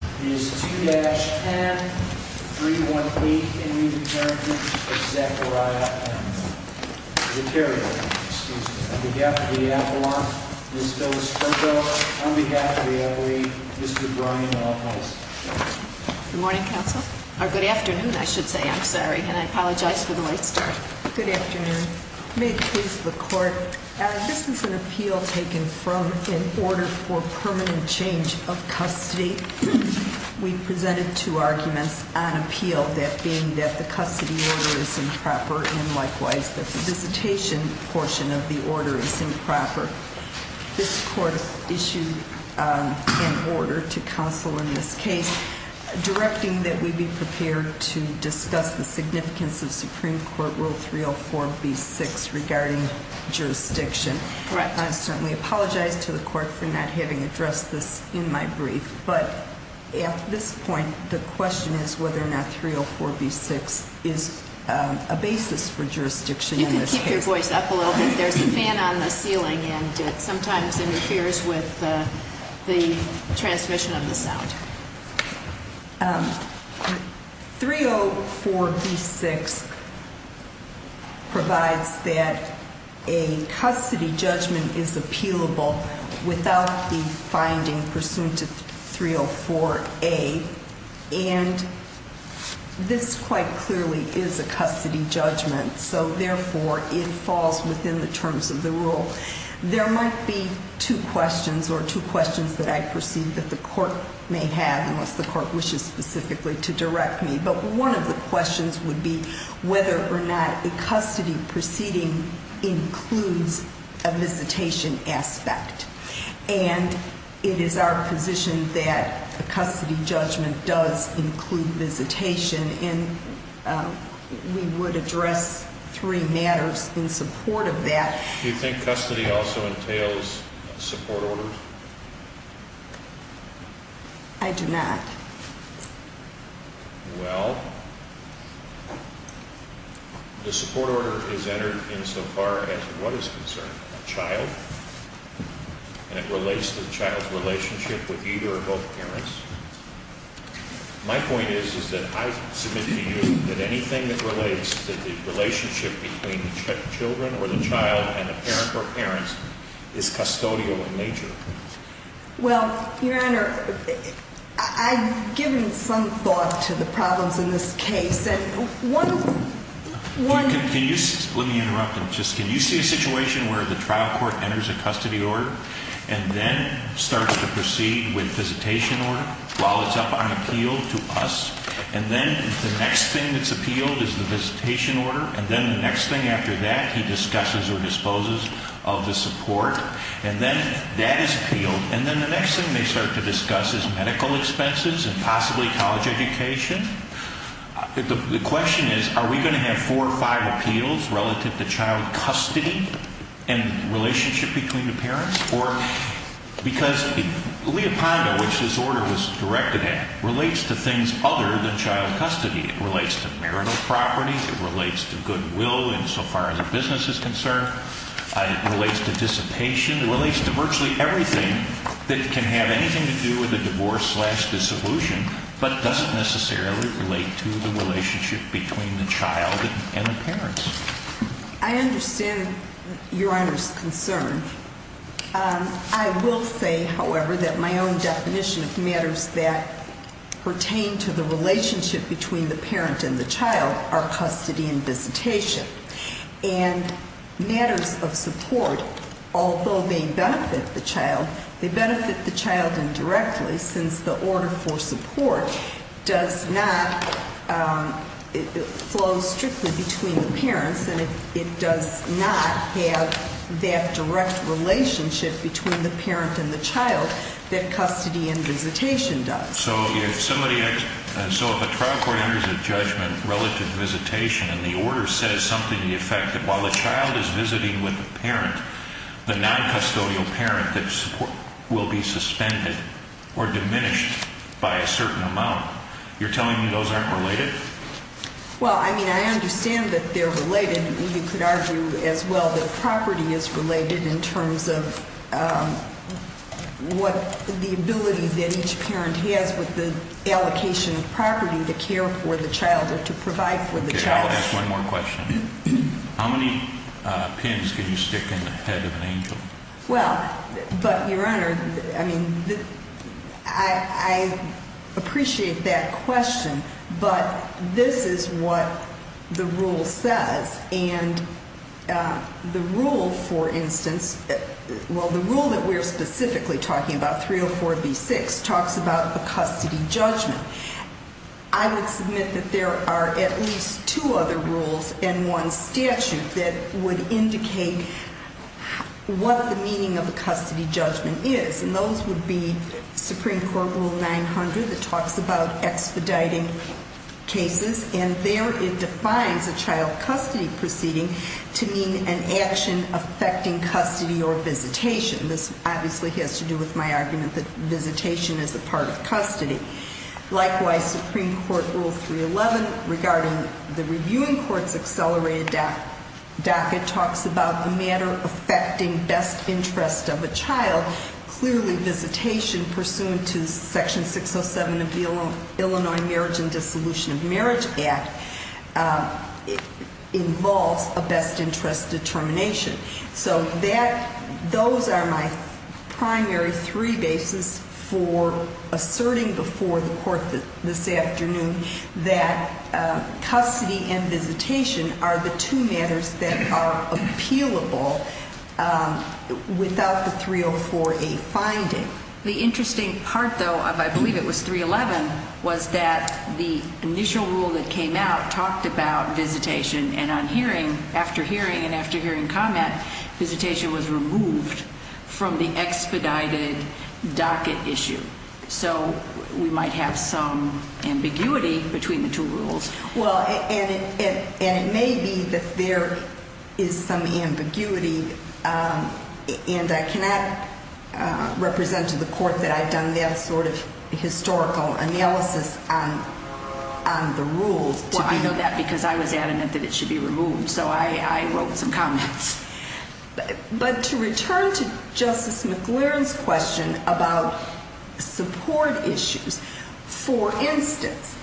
It is 2-10-318 in re Parentage of Zackaria M. The carrier, excuse me, on behalf of the F1, Ms. Phyllis Turco, on behalf of the F8, Mr. Brian Office. Good morning, counsel, or good afternoon, I should say, I'm sorry, and I apologize for the late start. Good afternoon. May it please the court, this is an appeal taken from an order for we presented two arguments on appeal, that being that the custody order is improper and likewise that the visitation portion of the order is improper. This court issued an order to counsel in this case, directing that we be prepared to discuss the significance of Supreme Court Rule 304B6 regarding jurisdiction. Correct. I certainly apologize to the court for not having addressed this in my brief, but at this point, the question is whether or not 304B6 is a basis for jurisdiction in this case. You can keep your voice up a little bit. There's a fan on the ceiling and it sometimes interferes with the transmission of the sound. 304B6 provides that a custody judgment is appealable without the finding pursuant to 304A. And this quite clearly is a custody judgment. So therefore, it falls within the terms of the rule. There might be two questions or two questions that I perceive that the court may have, unless the court wishes specifically to direct me, but one of the questions would be whether or not a custody proceeding includes a visitation aspect. And it is our position that a custody judgment does include visitation, and we would address three matters in support of that. Do you think custody also entails support orders? I do not. Well, the support order is entered in so far as what is concerned, a child. And it relates to the child's relationship with either or both parents. My point is, is that I submit to you that anything that relates to the relationship between the children or the child and a parent or parents is custodial in nature. Well, your honor, I've given some thought to the problems in this case. And one- Can you, let me interrupt him. Just can you see a situation where the trial court enters a custody order and then starts to proceed with visitation order while it's up on appeal to us? And then the next thing that's appealed is the visitation order, and then the next thing after that, he discusses or disposes of the support. And then that is appealed. And then the next thing they start to discuss is medical expenses and possibly college education. The question is, are we going to have four or five appeals relative to child custody and relationship between the parents? Or, because Leopondo, which this order was directed at, relates to things other than child custody. It relates to marital property, it relates to goodwill insofar as a business is concerned. It relates to dissipation. It relates to virtually everything that can have anything to do with a divorce slash dissolution, but doesn't necessarily relate to the relationship between the child and the parents. I understand your honor's concern. I will say, however, that my own definition of matters that pertain to the relationship between the parent and the child are custody and visitation. And matters of support, although they benefit the child, they benefit the child indirectly since the order for support does not flow strictly between the parents and it does not have that direct relationship between the parent and the child that custody and visitation does. So if a trial court enters a judgment relative to visitation and the order says something to the effect that while the child is visiting with the parent, the non-custodial parent will be suspended or diminished by a certain amount. You're telling me those aren't related? Well, I mean, I understand that they're related. You could argue as well that property is related in terms of what the ability that each parent has with the allocation of property to care for the child or to provide for the child. Okay, I'll ask one more question. How many pins can you stick in the head of an angel? Well, but your honor, I mean, I appreciate that question. But this is what the rule says. And the rule, for instance, well, the rule that we're specifically talking about, 304B6, talks about a custody judgment. I would submit that there are at least two other rules and one statute that would indicate what the meaning of a custody judgment is. And those would be Supreme Court Rule 900 that talks about expediting cases. And there it defines a child custody proceeding to mean an action affecting custody or visitation. This obviously has to do with my argument that visitation is a part of custody. Likewise, Supreme Court Rule 311 regarding the reviewing court's accelerated docket talks about the matter affecting best interest of a child. Clearly, visitation pursuant to Section 607 of the Illinois Marriage and Dissolution of Marriage Act involves a best interest determination. So those are my primary three bases for asserting before the court this afternoon that custody and visitation are the two matters that are appealable without the 304A finding. The interesting part, though, of, I believe it was 311, was that the initial rule that came out talked about visitation. And on hearing, after hearing and after hearing comment, visitation was removed from the expedited docket issue. So we might have some ambiguity between the two rules. Well, and it may be that there is some ambiguity, and I cannot represent to the court that I've done that sort of historical analysis on the rules. Well, I know that because I was adamant that it should be removed, so I wrote some comments. But to return to Justice McLearn's question about support issues. For instance,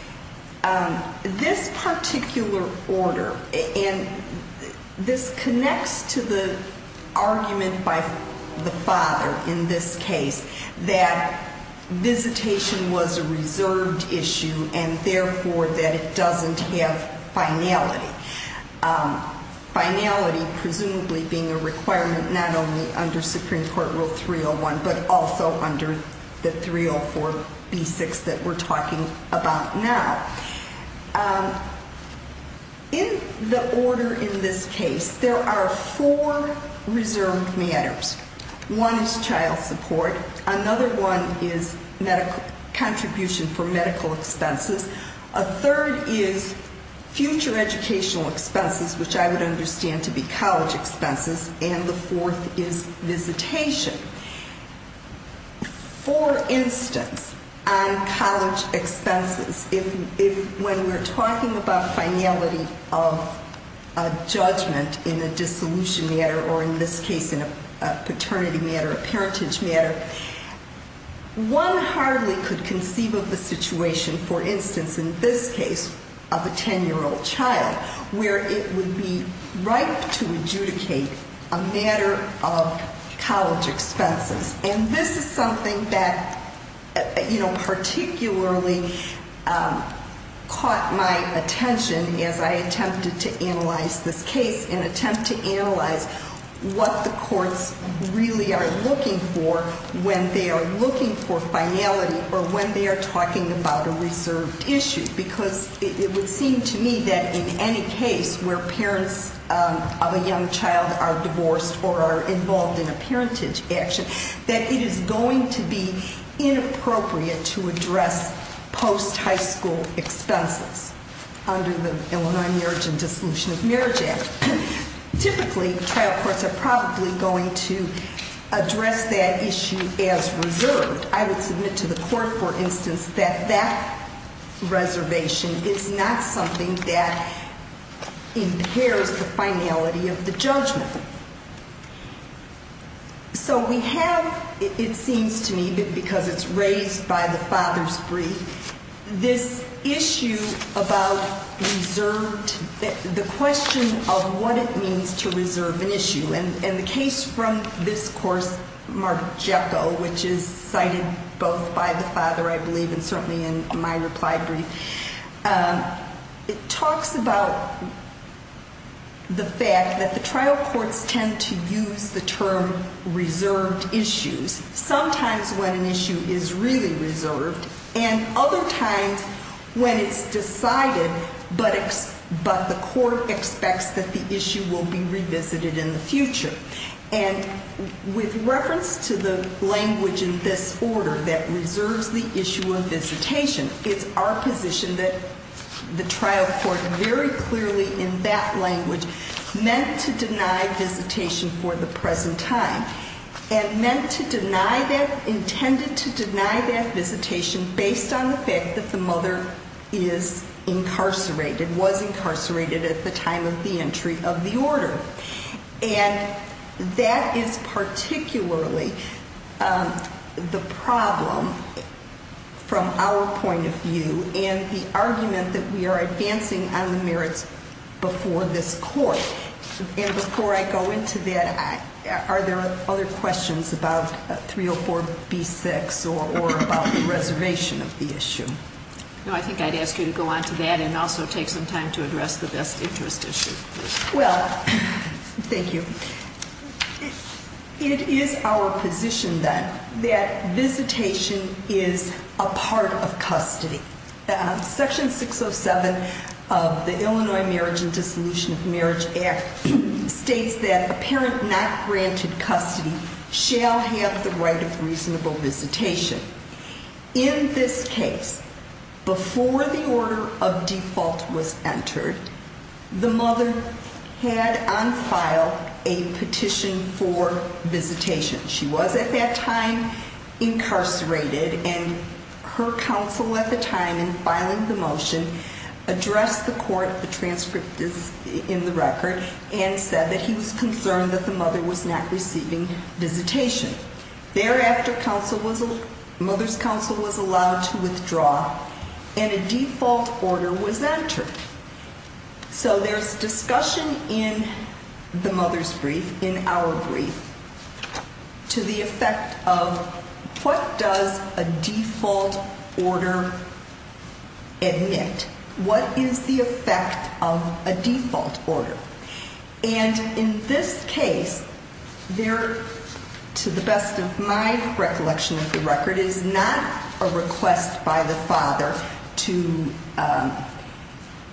this particular order, and this connects to the argument by the father in this case, that visitation was a reserved issue, and therefore, that it doesn't have finality. Finality presumably being a requirement not only under Supreme Court Rule 301, but also under the 304B6 that we're talking about now. In the order in this case, there are four reserved matters. One is child support, another one is contribution for medical expenses. A third is future educational expenses, which I would understand to be college expenses, and the fourth is visitation. For instance, on college expenses, if when we're talking about finality of a judgment in a dissolution matter, or in this case, in a paternity matter, a parentage matter. One hardly could conceive of the situation, for instance, in this case, of a ten-year-old child, where it would be right to adjudicate a matter of college expenses. And this is something that particularly caught my attention as I attempted to analyze this case, and attempt to analyze what the courts really are looking for when they are looking for finality, or when they are talking about a reserved issue. Because it would seem to me that in any case where parents of a young child are divorced, or are involved in a parentage action, that it is going to be inappropriate to address post-high school expenses under the Illinois Marriage and Dissolution of Marriage Act. Typically, trial courts are probably going to address that issue as reserved. I would submit to the court, for instance, that that reservation is not something that impairs the finality of the judgment. So we have, it seems to me, because it's raised by the father's brief, this issue about reserved, the question of what it means to reserve an issue. And the case from this course, Margeco, which is cited both by the father, I believe, and certainly in my reply brief, it talks about the fact that the trial courts tend to use the term reserved issues. Sometimes when an issue is really reserved, and other times when it's decided, but the court expects that the issue will be revisited in the future. And with reference to the language in this order that reserves the issue of visitation, it's our position that the trial court, very clearly in that language, meant to deny visitation for the present time, and meant to deny that, visitation based on the fact that the mother is incarcerated, was incarcerated at the time of the entry of the order. And that is particularly the problem from our point of view, and the argument that we are advancing on the merits before this court. And before I go into that, are there other questions about 304 B6 or about the reservation of the issue? No, I think I'd ask you to go on to that and also take some time to address the best interest issue. Well, thank you. It is our position, then, that visitation is a part of custody. Section 607 of the Illinois Marriage and Dissolution of Marriage Act states that a parent not granted custody shall have the right of reasonable visitation. In this case, before the order of default was entered, the mother had on file a petition for visitation. She was at that time incarcerated, and her counsel at the time in filing the motion addressed the court, the transcript is in the record, and said that he was concerned that the mother was not receiving visitation. Thereafter, mother's counsel was allowed to withdraw, and a default order was entered. So there's discussion in the mother's brief, in our brief, to the effect of, what does a default order admit? What is the effect of a default order? And in this case, there, to the best of my recollection of the record, is not a request by the father to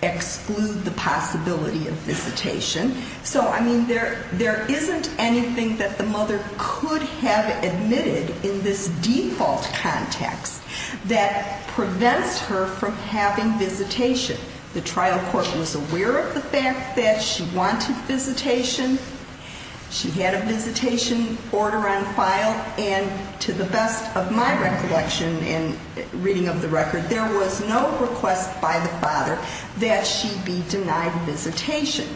exclude the possibility of visitation. So, I mean, there isn't anything that the mother could have admitted in this default context that prevents her from having visitation. The trial court was aware of the fact that she wanted visitation. She had a visitation order on file, and to the best of my recollection and reading of the record, there was no request by the father that she be denied visitation.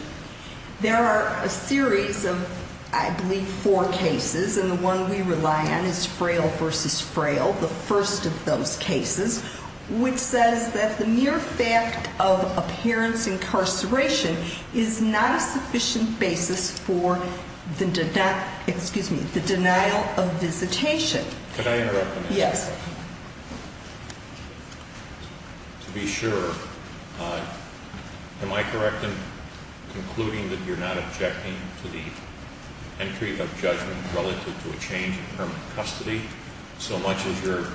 There are a series of, I believe, four cases, and the one we rely on is frail versus frail, the first of those cases. Which says that the mere fact of a parent's incarceration is not a sufficient basis for the, excuse me, the denial of visitation. Could I interrupt a minute? Yes. To be sure, am I correct in concluding that you're not objecting to the entry of judgment relative to a change in permanent custody, so much as you're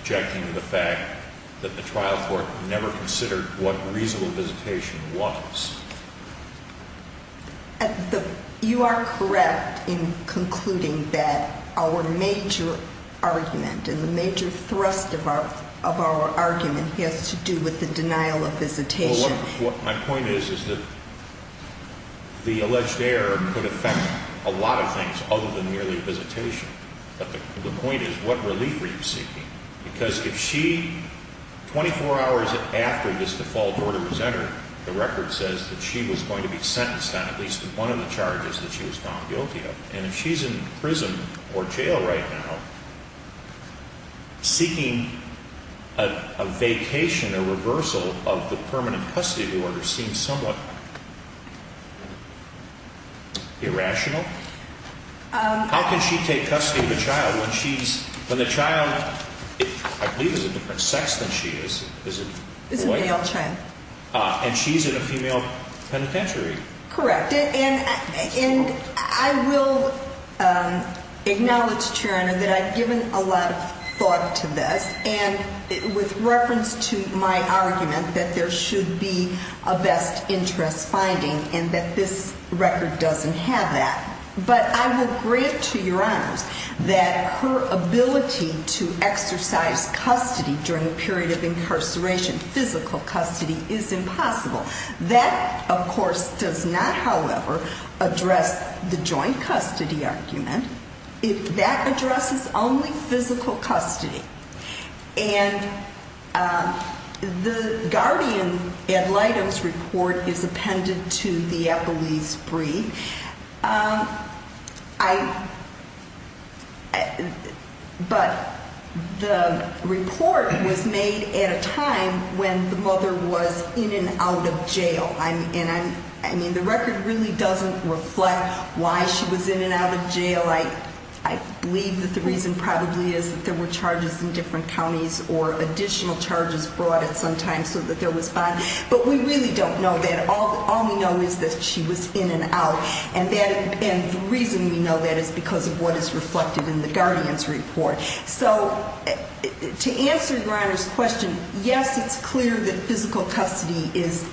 objecting to the fact that the trial court never considered what reasonable visitation was? You are correct in concluding that our major argument and the major thrust of our argument has to do with the denial of visitation. Well, what my point is, is that the alleged error could affect a lot of things other than merely visitation. But the point is, what relief are you seeking? Because if she, 24 hours after this default order was entered, the record says that she was going to be sentenced on at least one of the charges that she was found guilty of. And if she's in prison or jail right now, seeking a vacation, a reversal of the permanent custody order seems somewhat irrational. How can she take custody of a child when the child, I believe, is a different sex than she is? Is it- Is a male child. And she's in a female penitentiary. Correct. And I will acknowledge, Chair, that I've given a lot of thought to this. And with reference to my argument that there should be a best interest finding and that this record doesn't have that, but I will grant to your honors that her ability to exercise custody during a period of incarceration, physical custody, is impossible. That, of course, does not, however, address the joint custody argument. If that addresses only physical custody, and the guardian ad litem's report is appended to the Eppley's brief. I, but the report was made at a time when the mother was in and out of jail. I mean, the record really doesn't reflect why she was in and out of jail. I believe that the reason probably is that there were charges in different counties or additional charges brought at some time so that there was, but we really don't know that. All we know is that she was in and out. And the reason we know that is because of what is reflected in the guardian's report. So to answer your honor's question, yes, it's clear that physical custody is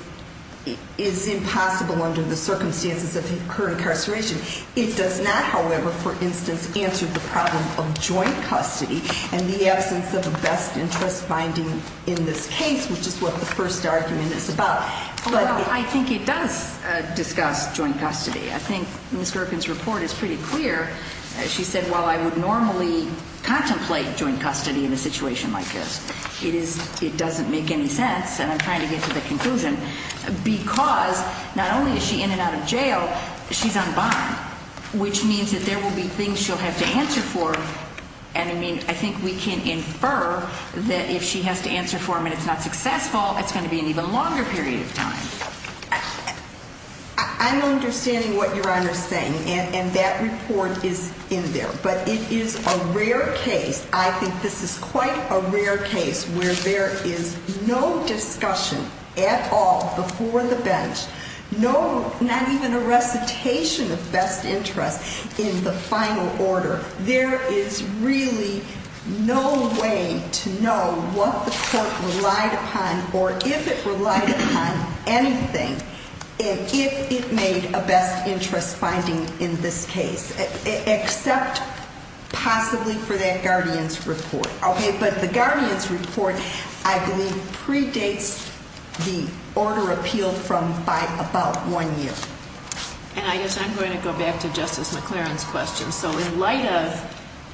impossible under the circumstances of her incarceration. It does not, however, for instance, answer the problem of joint custody and the absence of a best interest finding in this case, which is what the first argument is about. But I think it does discuss joint custody. I think Ms. Gerken's report is pretty clear. She said, well, I would normally contemplate joint custody in a situation like this. It doesn't make any sense, and I'm trying to get to the conclusion, because not only is she in and out of jail, she's on bond, which means that there will be things she'll have to answer for. And I mean, I think we can infer that if she has to answer for him and it's not successful, it's going to be an even longer period of time. I'm understanding what your honor's saying, and that report is in there. But it is a rare case, I think this is quite a rare case, where there is no discussion at all before the bench. Not even a recitation of best interest in the final order. There is really no way to know what the court relied upon, or if it relied upon anything, if it made a best interest finding in this case. Except possibly for that guardian's report, okay? But the guardian's report, I believe, predates the order appealed from by about one year. And I guess I'm going to go back to Justice McLaren's question. So in light of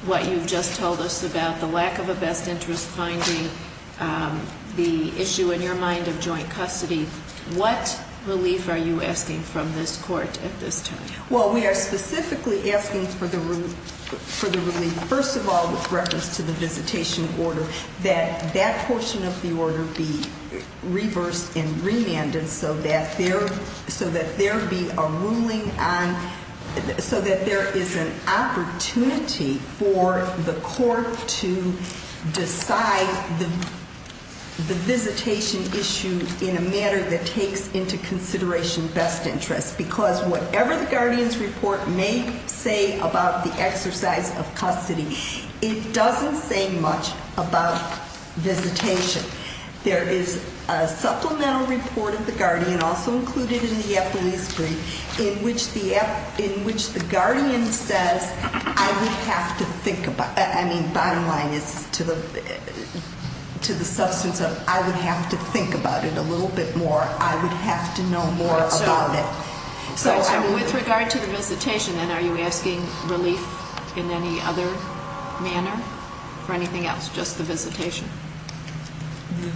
what you've just told us about the lack of a best interest finding, the issue in your mind of joint custody, what relief are you asking from this court at this time? Well, we are specifically asking for the relief, first of all, with reference to the visitation order, that that portion of the order be reversed and there be a ruling on, so that there is an opportunity for the court to decide the visitation issue in a manner that takes into consideration best interest. Because whatever the guardian's report may say about the exercise of custody, it doesn't say much about visitation. There is a supplemental report of the guardian, also included in the FLE screen, in which the guardian says, I would have to think about, I mean, bottom line is to the substance of, I would have to think about it a little bit more. I would have to know more about it. So with regard to the visitation, then, are you asking relief in any other manner for anything else? Just the visitation?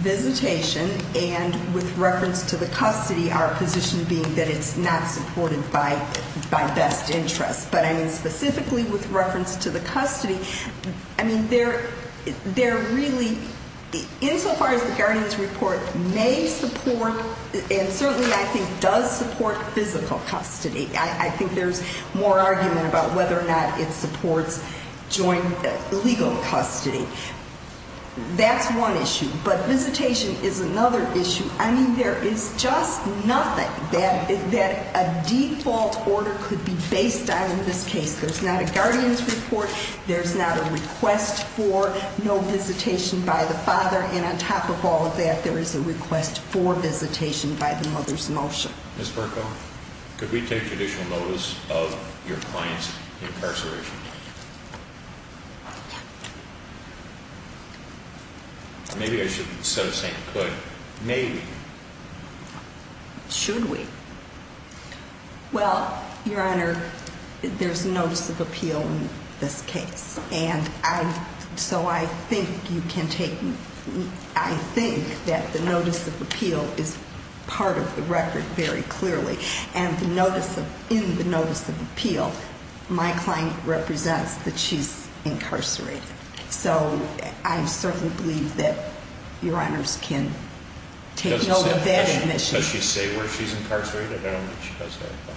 Visitation, and with reference to the custody, our position being that it's not supported by best interest. But I mean, specifically with reference to the custody, I mean, they're really, insofar as the guardian's report may support, and certainly, I think, does support physical custody. I think there's more argument about whether or not it supports joint legal custody. That's one issue, but visitation is another issue. I mean, there is just nothing that a default order could be based on in this case. There's not a guardian's report, there's not a request for no visitation by the father. And on top of all of that, there is a request for visitation by the mother's motion. Ms. Berkoff, could we take additional notice of your client's incarceration? Maybe I should instead of saying could, may we? Should we? Well, Your Honor, there's notice of appeal in this case. And so I think you can take, I think that the notice of appeal is part of the record very clearly. And in the notice of appeal, my client represents that she's incarcerated. So, I certainly believe that your honors can take note of that and that she- Does she say where she's incarcerated? I don't know if she does that, but.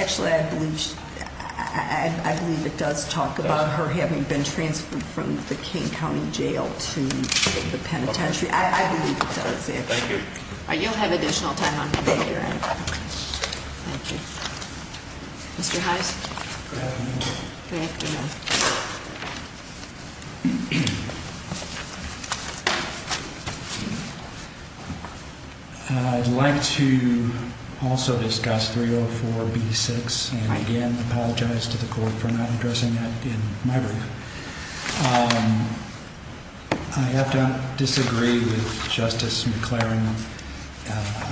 Actually, I believe it does talk about her having been transferred from the King County Jail to the penitentiary. I believe it does, yes. Thank you. You'll have additional time on your end. Thank you. Mr. Hines? Good afternoon. I'd like to also discuss 304B6 and again apologize to the court for not addressing that in my brief. I have to disagree with Justice McLaren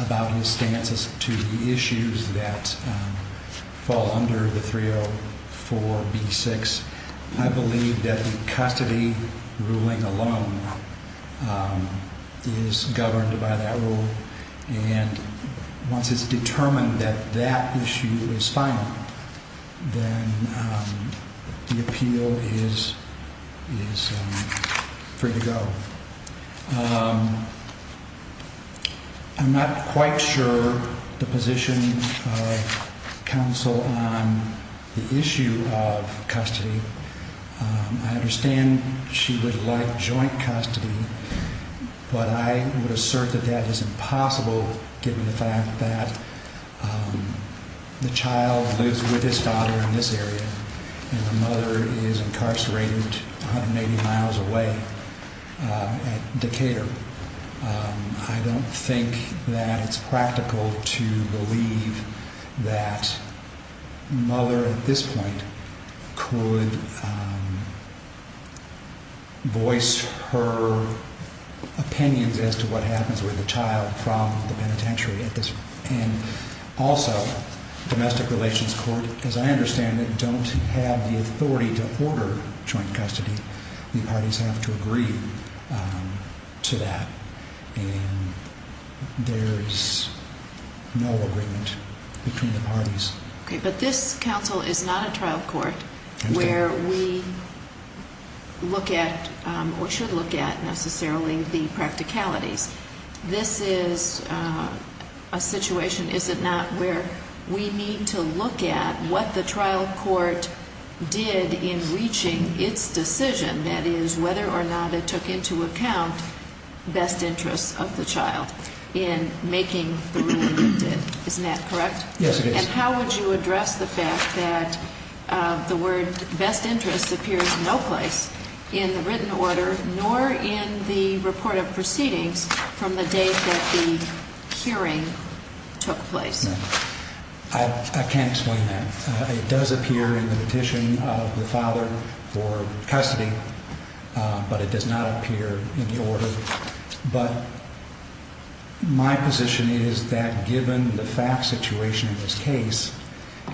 about his stances to the issues that fall under the 304B6. I believe that the custody ruling alone is governed by that rule. And once it's determined that that issue is final, then the appeal is free to go. I'm not quite sure the position of counsel on the issue of custody. I understand she would like joint custody, but I would assert that that is impossible given the fact that the child lives with his daughter in this area and the mother is incarcerated 180 miles away. At Decatur, I don't think that it's practical to believe that mother at this point could voice her opinions as to what happens with the child from the penitentiary. And also, domestic relations court, as I understand it, don't have the authority to order joint custody. The parties have to agree to that. And there is no agreement between the parties. Okay, but this counsel is not a trial court where we look at or should look at necessarily the practicalities. This is a situation, is it not, where we need to look at what the trial court did in reaching its decision, that is, whether or not it took into account best interests of the child in making the ruling it did. Isn't that correct? Yes, it is. And how would you address the fact that the word best interests appears no place in the written order nor in the report of proceedings from the day that the hearing took place? I can't explain that. It does appear in the petition of the father for custody, but it does not appear in the order. But my position is that given the fact situation of this case,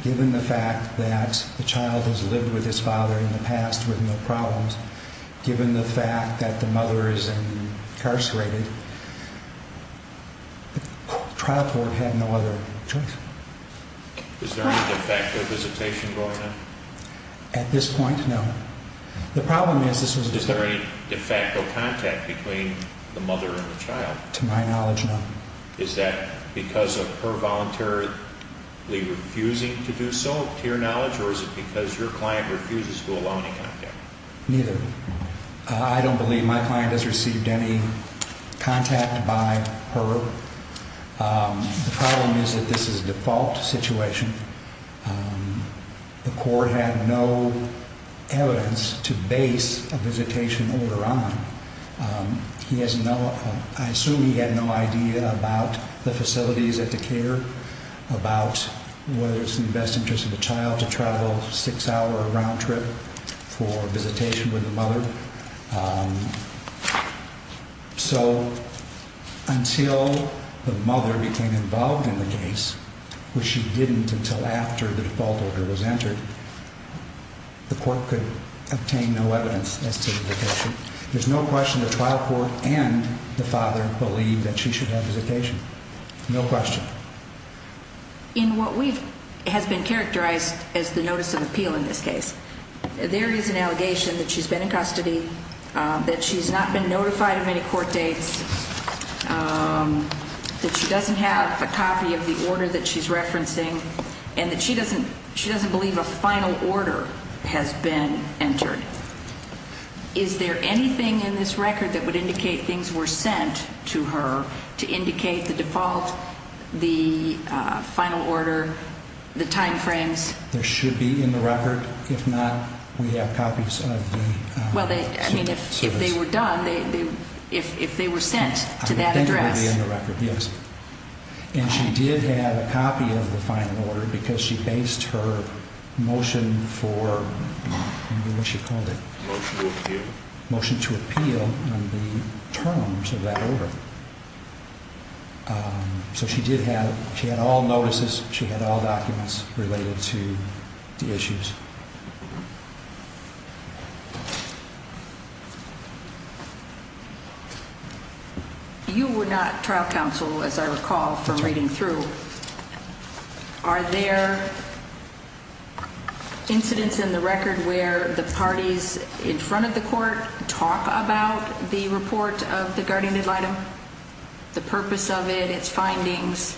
given the fact that the child has lived with his father in the past with no problems, given the fact that the mother is incarcerated, the trial court had no other choice. Is there any de facto visitation going on? At this point, no. The problem is this was a visitation. Is there any de facto contact between the mother and the child? To my knowledge, no. Is that because of her voluntarily refusing to do so, to your knowledge, or is it because your client refuses to allow any contact? Neither. I don't believe my client has received any contact by her. The problem is that this is a default situation. The court had no evidence to base a visitation order on. I assume he had no idea about the facilities at the care, about whether it's in the best interest of the child to travel a six-hour round trip for visitation with the mother. So until the mother became involved in the case, which she didn't until after the default order was entered, the court could obtain no evidence as to the visitation. There's no question the trial court and the father believe that she should have visitation. No question. In what has been characterized as the notice of appeal in this case, there is an allegation that she's been in custody, that she's not been notified of any court dates, that she doesn't have a copy of the order that she's referencing, and that she doesn't believe a final order has been entered. Is there anything in this record that would indicate things were sent to her to indicate the default, the final order, the time frames? There should be in the record. If not, we have copies of the service. Well, I mean, if they were done, if they were sent to that address. I think it would be in the record, yes. And she did have a copy of the final order because she based her motion for what she called it? Motion to appeal. Motion to appeal on the terms of that order. So she did have, she had all notices, she had all documents related to the issues. You were not trial counsel, as I recall from reading through. Are there incidents in the record where the parties in front of the court talk about the report of the guardian ad litem, the purpose of it, its findings?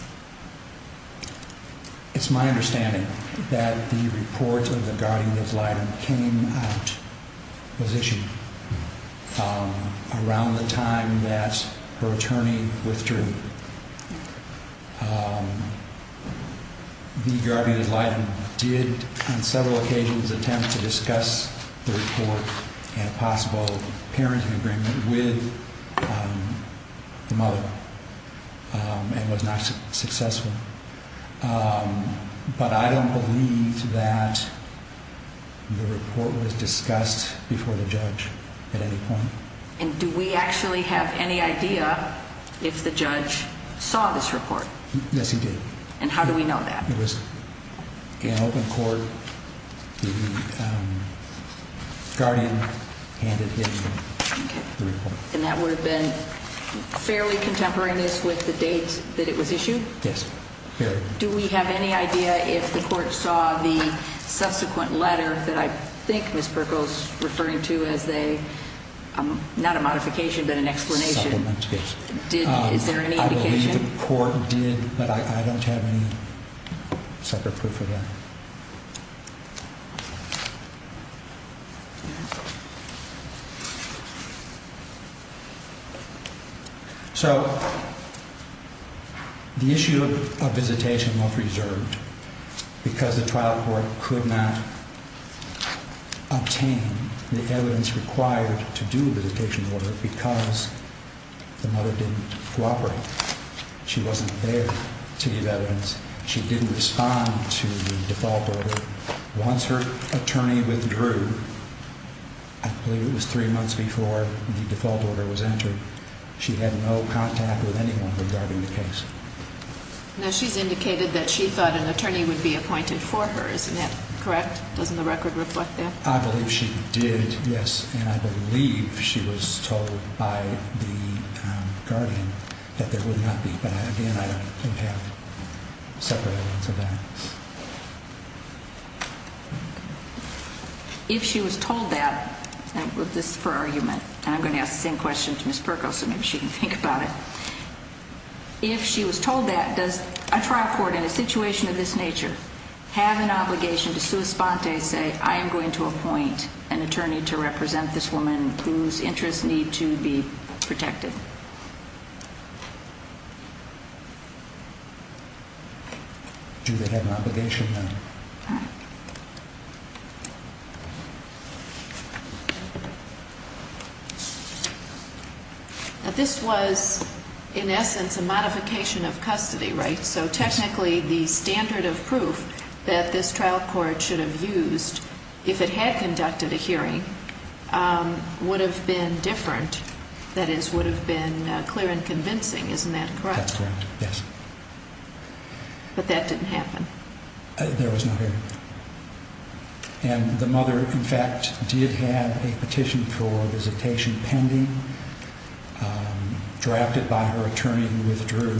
It's my understanding that the report of the guardian ad litem came out, was issued around the time that her attorney withdrew. The guardian ad litem did, on several occasions, attempt to discuss the report in a possible parenting agreement with the mother and was not successful. But I don't believe that the report was discussed before the judge at any point. And do we actually have any idea if the judge saw this report? Yes, he did. And how do we know that? It was in open court. The guardian handed him the report. And that would have been fairly contemporaneous with the date that it was issued? Yes. Do we have any idea if the court saw the subsequent letter that I think Ms. Perkel is referring to as a, not a modification, but an explanation? Supplement, yes. Is there any indication? I don't believe the court did, but I don't have any separate proof of that. So the issue of visitation was reserved because the trial court could not obtain the evidence required to do a visitation order because the mother didn't cooperate. She wasn't there to give evidence. She didn't respond to the default order. Once her attorney withdrew, I believe it was three months before the default order was entered, she had no contact with anyone regarding the case. Now, she's indicated that she thought an attorney would be appointed for her. Isn't that correct? Doesn't the record reflect that? I believe she did, yes. And I believe she was told by the guardian that there would not be. But, again, I don't have separate evidence of that. If she was told that, and this is for argument, and I'm going to ask the same question to Ms. Perkel so maybe she can think about it, if she was told that, does a trial court in a situation of this nature have an obligation to sua sponte, say, I am going to appoint an attorney to represent this woman whose interests need to be protected? Do they have an obligation? No. Now, this was, in essence, a modification of custody, right? So, technically, the standard of proof that this trial court should have used if it had conducted a hearing would have been different, that is, would have been clear and convincing. Isn't that correct? That's correct, yes. But that didn't happen. There was no hearing. And the mother, in fact, did have a petition for visitation pending, drafted by her attorney, who withdrew,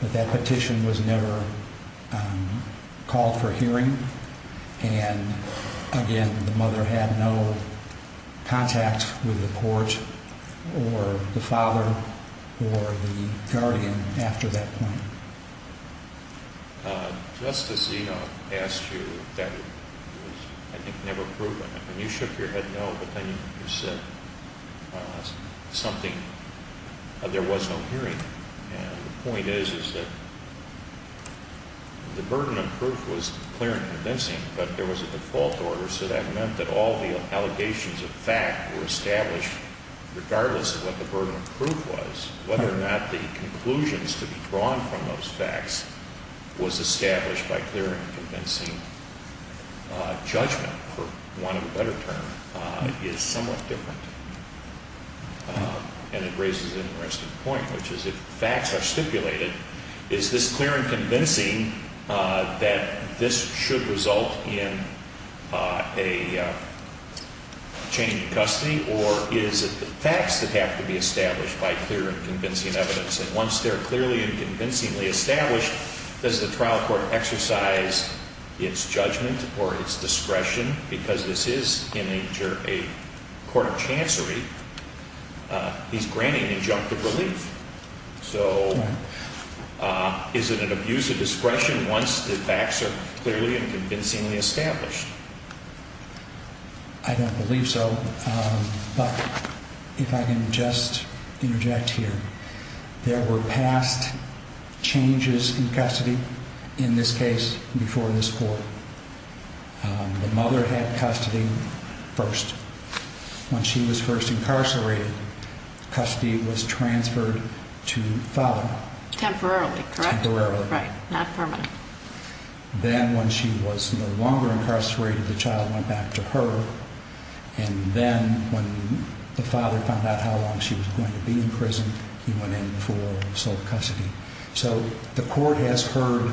but that petition was never called for hearing. And, again, the mother had no contact with the court or the father or the guardian after that point. Justice Eno asked you, that was, I think, never proven. When you shook your head no, but then you said something, there was no hearing. And the point is, is that the burden of proof was clear and convincing, but there was a default order, so that meant that all the allegations of fact were established, regardless of what the burden of proof was, whether or not the conclusions to be drawn from those facts was established by clear and convincing judgment for want of a better term, is somewhat different. And it raises an interesting point, which is, if facts are stipulated, is this clear and convincing that this should result in a change of custody, or is it the facts that have to be established by clear and convincing evidence? And once they're clearly and convincingly established, does the trial court exercise its judgment or its discretion? Because this is in a court of chancery, he's granting injunctive relief. So is it an abuse of discretion once the facts are clearly and convincingly established? I don't believe so, but if I can just interject here, there were past changes in custody in this case before this court. The mother had custody first. When she was first incarcerated, custody was transferred to the father. Temporarily, correct? Temporarily. Right, not permanently. Then when she was no longer incarcerated, the child went back to her. And then when the father found out how long she was going to be in prison, he went in for sole custody. So the court has heard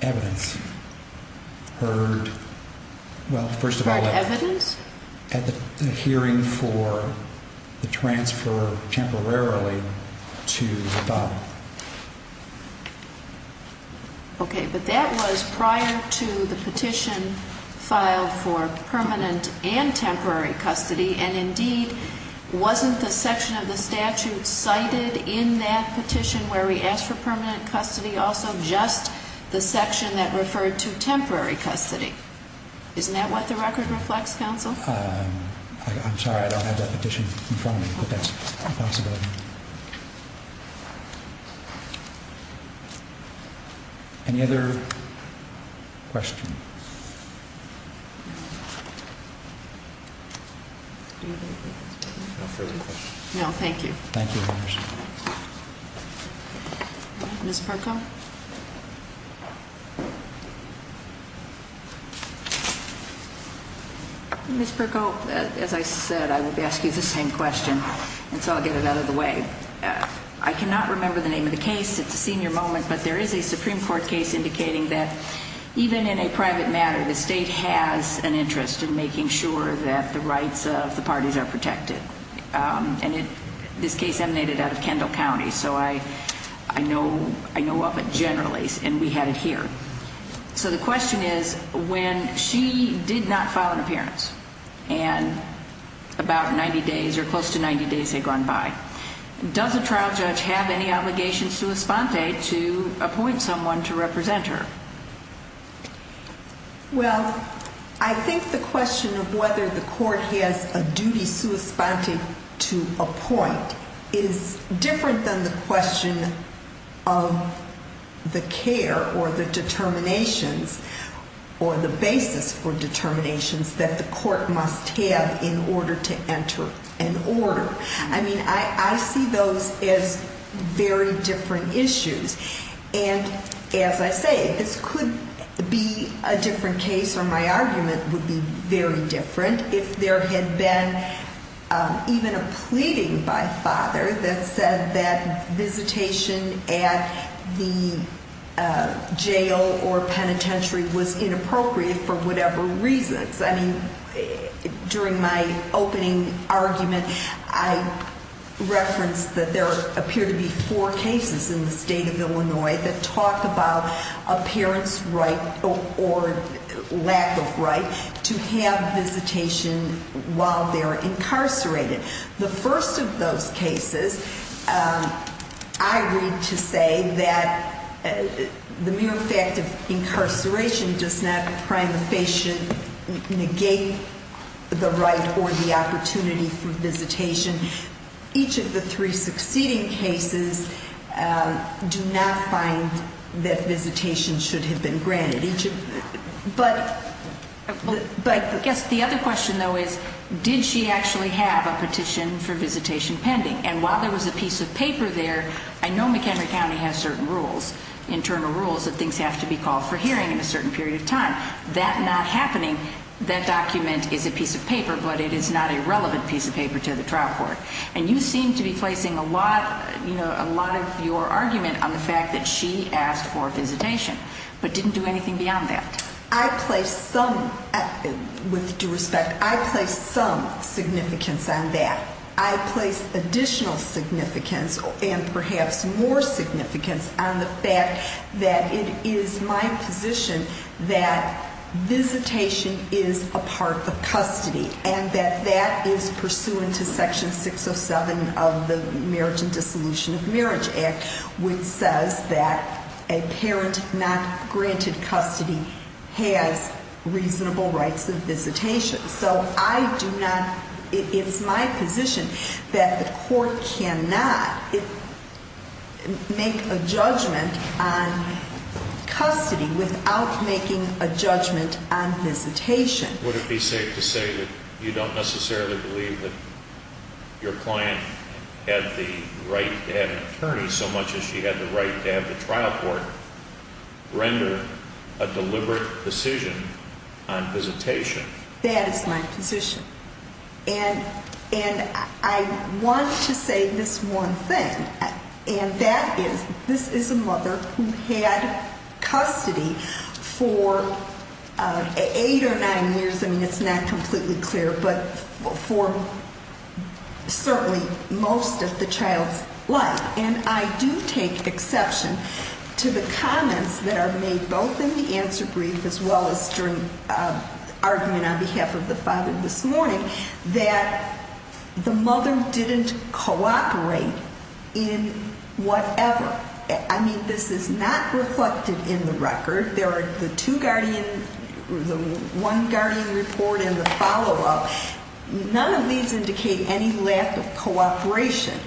evidence. Heard, well, first of all… Heard evidence? …at the hearing for the transfer temporarily to the father. Okay, but that was prior to the petition filed for permanent and temporary custody, and indeed, wasn't the section of the statute cited in that petition where we asked for permanent custody also just the section that referred to temporary custody? Isn't that what the record reflects, counsel? I'm sorry, I don't have that petition in front of me, but that's a possibility. Any other questions? No further questions. No, thank you. Thank you, Your Honor. Ms. Perko? Ms. Perko, as I said, I would ask you the same question, and so I'll get it out of the way. I cannot remember the name of the case. It's a senior moment, but there is a Supreme Court case indicating that even in a private matter, the state has an interest in making sure that the rights of the parties are protected. And this case emanated out of Kendall County, so I know of it generally, and we had it here. So the question is, when she did not file an appearance, and about 90 days or close to 90 days had gone by, does a trial judge have any obligation sua sponte to appoint someone to represent her? Well, I think the question of whether the court has a duty sua sponte to appoint is different than the question of the care or the determinations or the basis for determinations that the court must have in order to enter an order. I mean, I see those as very different issues. And as I say, this could be a different case, or my argument would be very different, if there had been even a pleading by a father that said that visitation at the jail or penitentiary was inappropriate for whatever reasons. I mean, during my opening argument, I referenced that there appear to be four cases in the state of Illinois that talk about a parent's right or lack of right to have visitation while they're incarcerated. The first of those cases, I read to say that the mere fact of incarceration does not prima facie negate the right or the opportunity for visitation. Each of the three succeeding cases do not find that visitation should have been granted. But I guess the other question, though, is did she actually have a petition for visitation pending? And while there was a piece of paper there, I know McHenry County has certain rules, internal rules that things have to be called for hearing in a certain period of time. That not happening, that document is a piece of paper, but it is not a relevant piece of paper to the trial court. And you seem to be placing a lot of your argument on the fact that she asked for visitation, but didn't do anything beyond that. I placed some, with due respect, I placed some significance on that. I placed additional significance, and perhaps more significance, on the fact that it is my position that visitation is a part of custody and that that is pursuant to Section 607 of the Marriage and Dissolution of Marriage Act, which says that a parent not granted custody has reasonable rights of visitation. So I do not, it is my position that the court cannot make a judgment on custody without making a judgment on visitation. Would it be safe to say that you don't necessarily believe that your client had the right to have an attorney so much as she had the right to have the trial court render a deliberate decision on visitation? That is my position. And I want to say this one thing, and that is this is a mother who had custody for eight or nine years. I mean, it's not completely clear, but for certainly most of the child's life. And I do take exception to the comments that are made both in the answer brief as well as during argument on behalf of the father this morning that the mother didn't cooperate in whatever. I mean, this is not reflected in the record. There are the two guardian, the one guardian report and the follow-up. None of these indicate any lack of cooperation.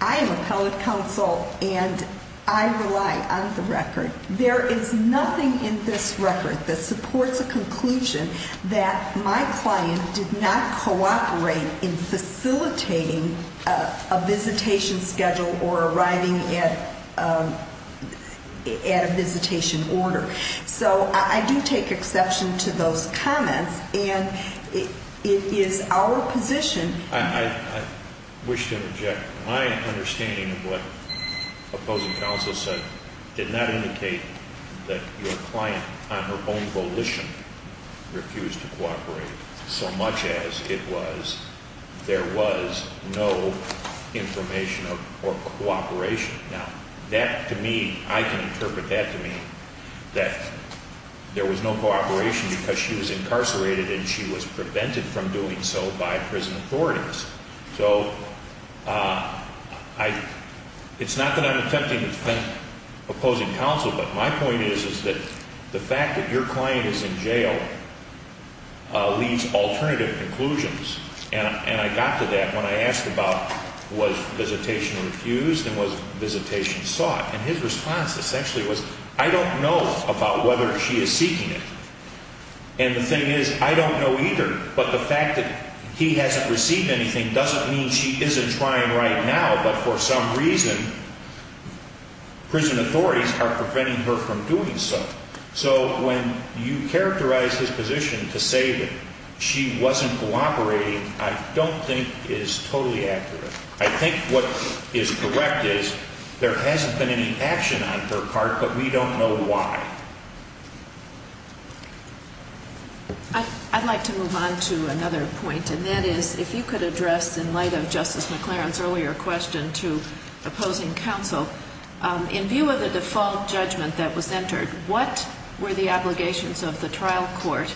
I am appellate counsel, and I rely on the record. There is nothing in this record that supports a conclusion that my client did not cooperate in facilitating a visitation schedule or arriving at a visitation order. So I do take exception to those comments, and it is our position. I wish to object. My understanding of what opposing counsel said did not indicate that your client on her own volition refused to cooperate so much as it was there was no information or cooperation. Now, that to me, I can interpret that to mean that there was no cooperation because she was incarcerated and she was prevented from doing so by prison authorities. So it's not that I'm attempting to defend opposing counsel, but my point is that the fact that your client is in jail leaves alternative conclusions. And I got to that when I asked about was visitation refused and was visitation sought. And his response essentially was, I don't know about whether she is seeking it. And the thing is, I don't know either. But the fact that he hasn't received anything doesn't mean she isn't trying right now. But for some reason, prison authorities are preventing her from doing so. So when you characterize his position to say that she wasn't cooperating, I don't think is totally accurate. I think what is correct is there hasn't been any action on her part, but we don't know why. I'd like to move on to another point, and that is if you could address in light of Justice McLaren's earlier question to opposing counsel, in view of the default judgment that was entered, what were the obligations of the trial court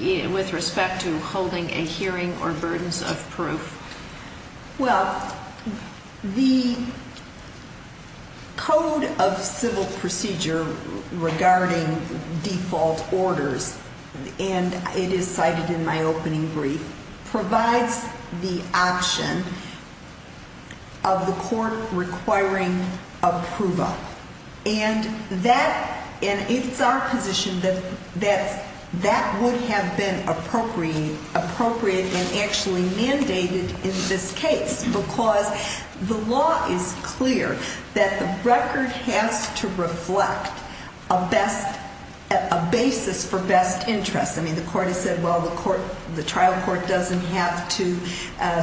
with respect to holding a hearing or burdens of proof? Well, the Code of Civil Procedure regarding default orders, and it is cited in my opening brief, provides the option of the court requiring approval. And it's our position that that would have been appropriate and actually mandated in this case, because the law is clear that the record has to reflect a basis for best interest. I mean, the court has said, well, the trial court doesn't have to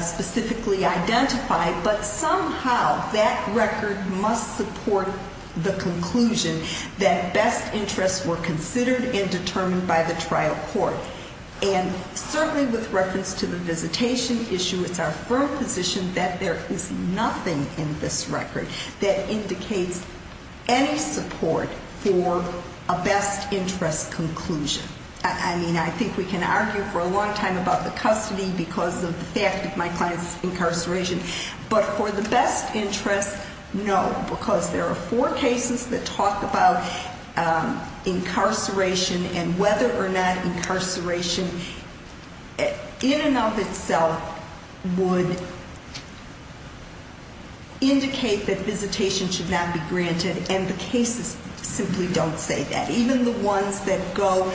specifically identify, but somehow that record must support the conclusion that best interests were considered and determined by the trial court. And certainly with reference to the visitation issue, it's our firm position that there is nothing in this record that indicates any support for a best interest conclusion. I mean, I think we can argue for a long time about the custody because of the fact that my client's incarceration, but for the best interest, no, because there are four cases that talk about incarceration and whether or not incarceration, in and of itself, would indicate that visitation should not be granted, and the cases simply don't say that. Even the ones that go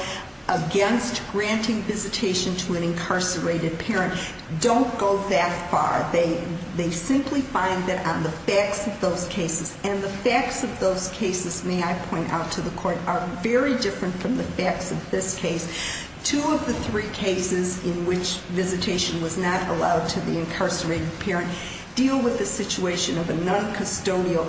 against granting visitation to an incarcerated parent don't go that far. They simply find that on the facts of those cases, and the facts of those cases, may I point out to the court, are very different from the facts of this case. Two of the three cases in which visitation was not allowed to the incarcerated parent deal with the situation of a noncustodial,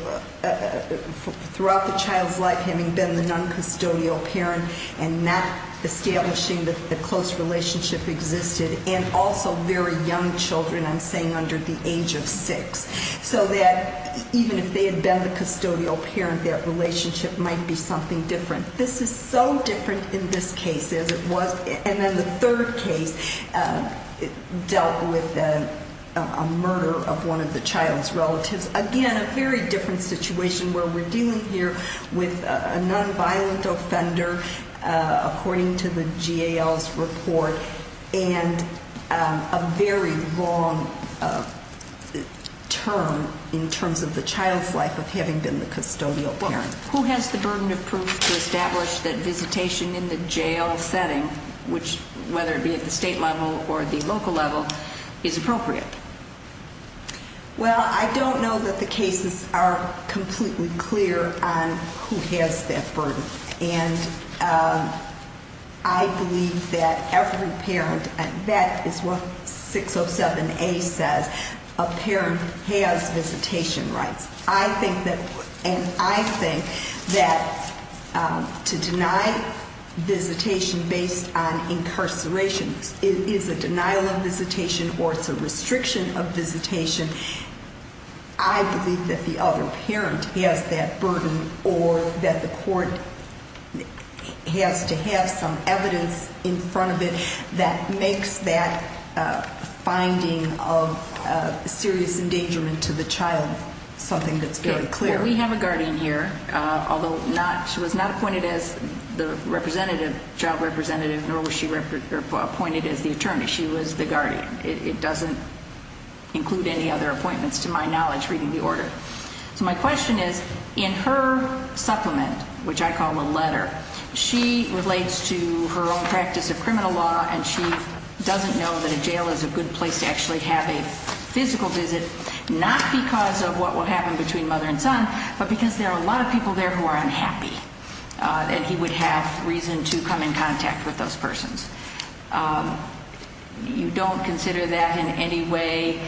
throughout the child's life having been the noncustodial parent and not establishing the close relationship existed, and also very young children, I'm saying under the age of six, so that even if they had been the custodial parent, their relationship might be something different. This is so different in this case as it was, and then the third case dealt with a murder of one of the child's relatives. Again, a very different situation where we're dealing here with a nonviolent offender, according to the GAL's report, and a very long term in terms of the child's life of having been the custodial parent. Who has the burden of proof to establish that visitation in the jail setting, whether it be at the state level or the local level, is appropriate? Well, I don't know that the cases are completely clear on who has that burden, and I believe that every parent, and that is what 607A says, a parent has visitation rights. I think that to deny visitation based on incarceration is a denial of visitation or it's a restriction of visitation. I believe that the other parent has that burden or that the court has to have some evidence in front of it that makes that finding of serious endangerment to the child something that's very clear. We have a guardian here, although she was not appointed as the representative, job representative, nor was she appointed as the attorney. She was the guardian. It doesn't include any other appointments to my knowledge, reading the order. So my question is, in her supplement, which I call the letter, she relates to her own practice of criminal law and she doesn't know that a jail is a good place to actually have a physical visit, not because of what will happen between mother and son, but because there are a lot of people there who are unhappy and he would have reason to come in contact with those persons. You don't consider that in any way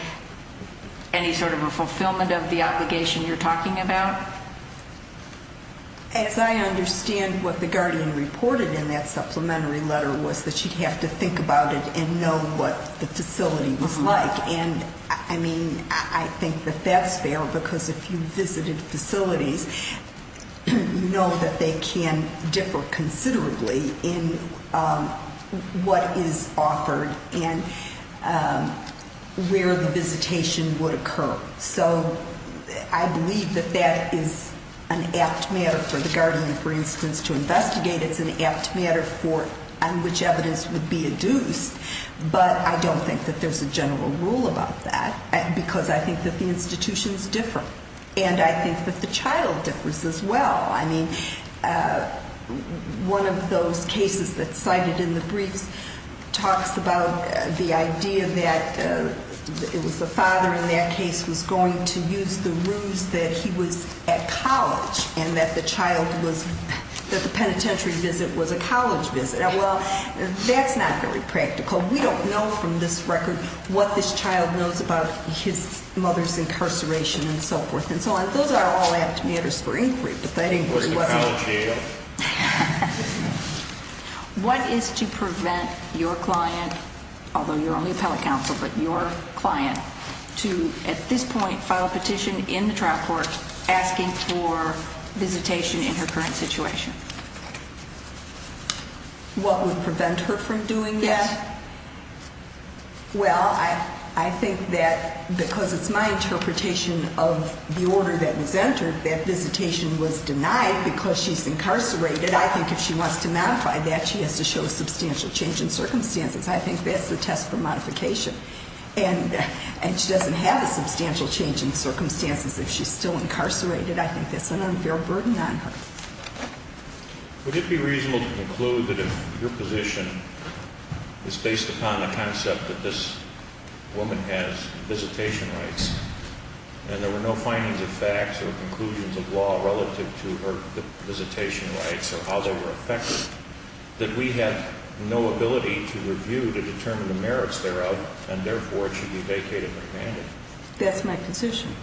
any sort of a fulfillment of the obligation you're talking about? As I understand what the guardian reported in that supplementary letter was that she'd have to think about it and know what the facility was like. And I mean, I think that that's fair because if you visited facilities, you know that they can differ considerably in what is offered and where the visitation would occur. So I believe that that is an apt matter for the guardian, for instance, to investigate. It's an apt matter on which evidence would be adduced. But I don't think that there's a general rule about that because I think that the institutions differ. And I think that the child differs as well. I mean, one of those cases that's cited in the briefs talks about the idea that it was the father in that case who's going to use the ruse that he was at college and that the child was, that the penitentiary visit was a college visit. Well, that's not very practical. We don't know from this record what this child knows about his mother's incarceration and so forth and so on. Those are all apt matters for inquiry, but that inquiry wasn't- Was the college jail? What is to prevent your client, although you're only appellate counsel, but your client, to, at this point, file a petition in the trial court asking for visitation in her current situation? What would prevent her from doing that? Well, I think that because it's my interpretation of the order that was entered, that visitation was denied because she's incarcerated. I think if she wants to modify that, she has to show substantial change in circumstances. I think that's the test for modification. And she doesn't have a substantial change in circumstances if she's still incarcerated. I think that's an unfair burden on her. Would it be reasonable to conclude that if your position is based upon the concept that this woman has visitation rights and there were no findings of facts or conclusions of law relative to her visitation rights or how they were affected, that we have no ability to review to determine the merits thereof, and therefore, it should be vacated or abandoned? That's my position.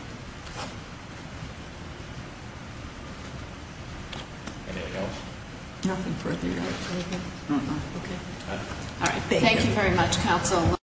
Anything else? Nothing further, Your Honor. Anything else? No, no. Okay. All right, thank you very much, counsel.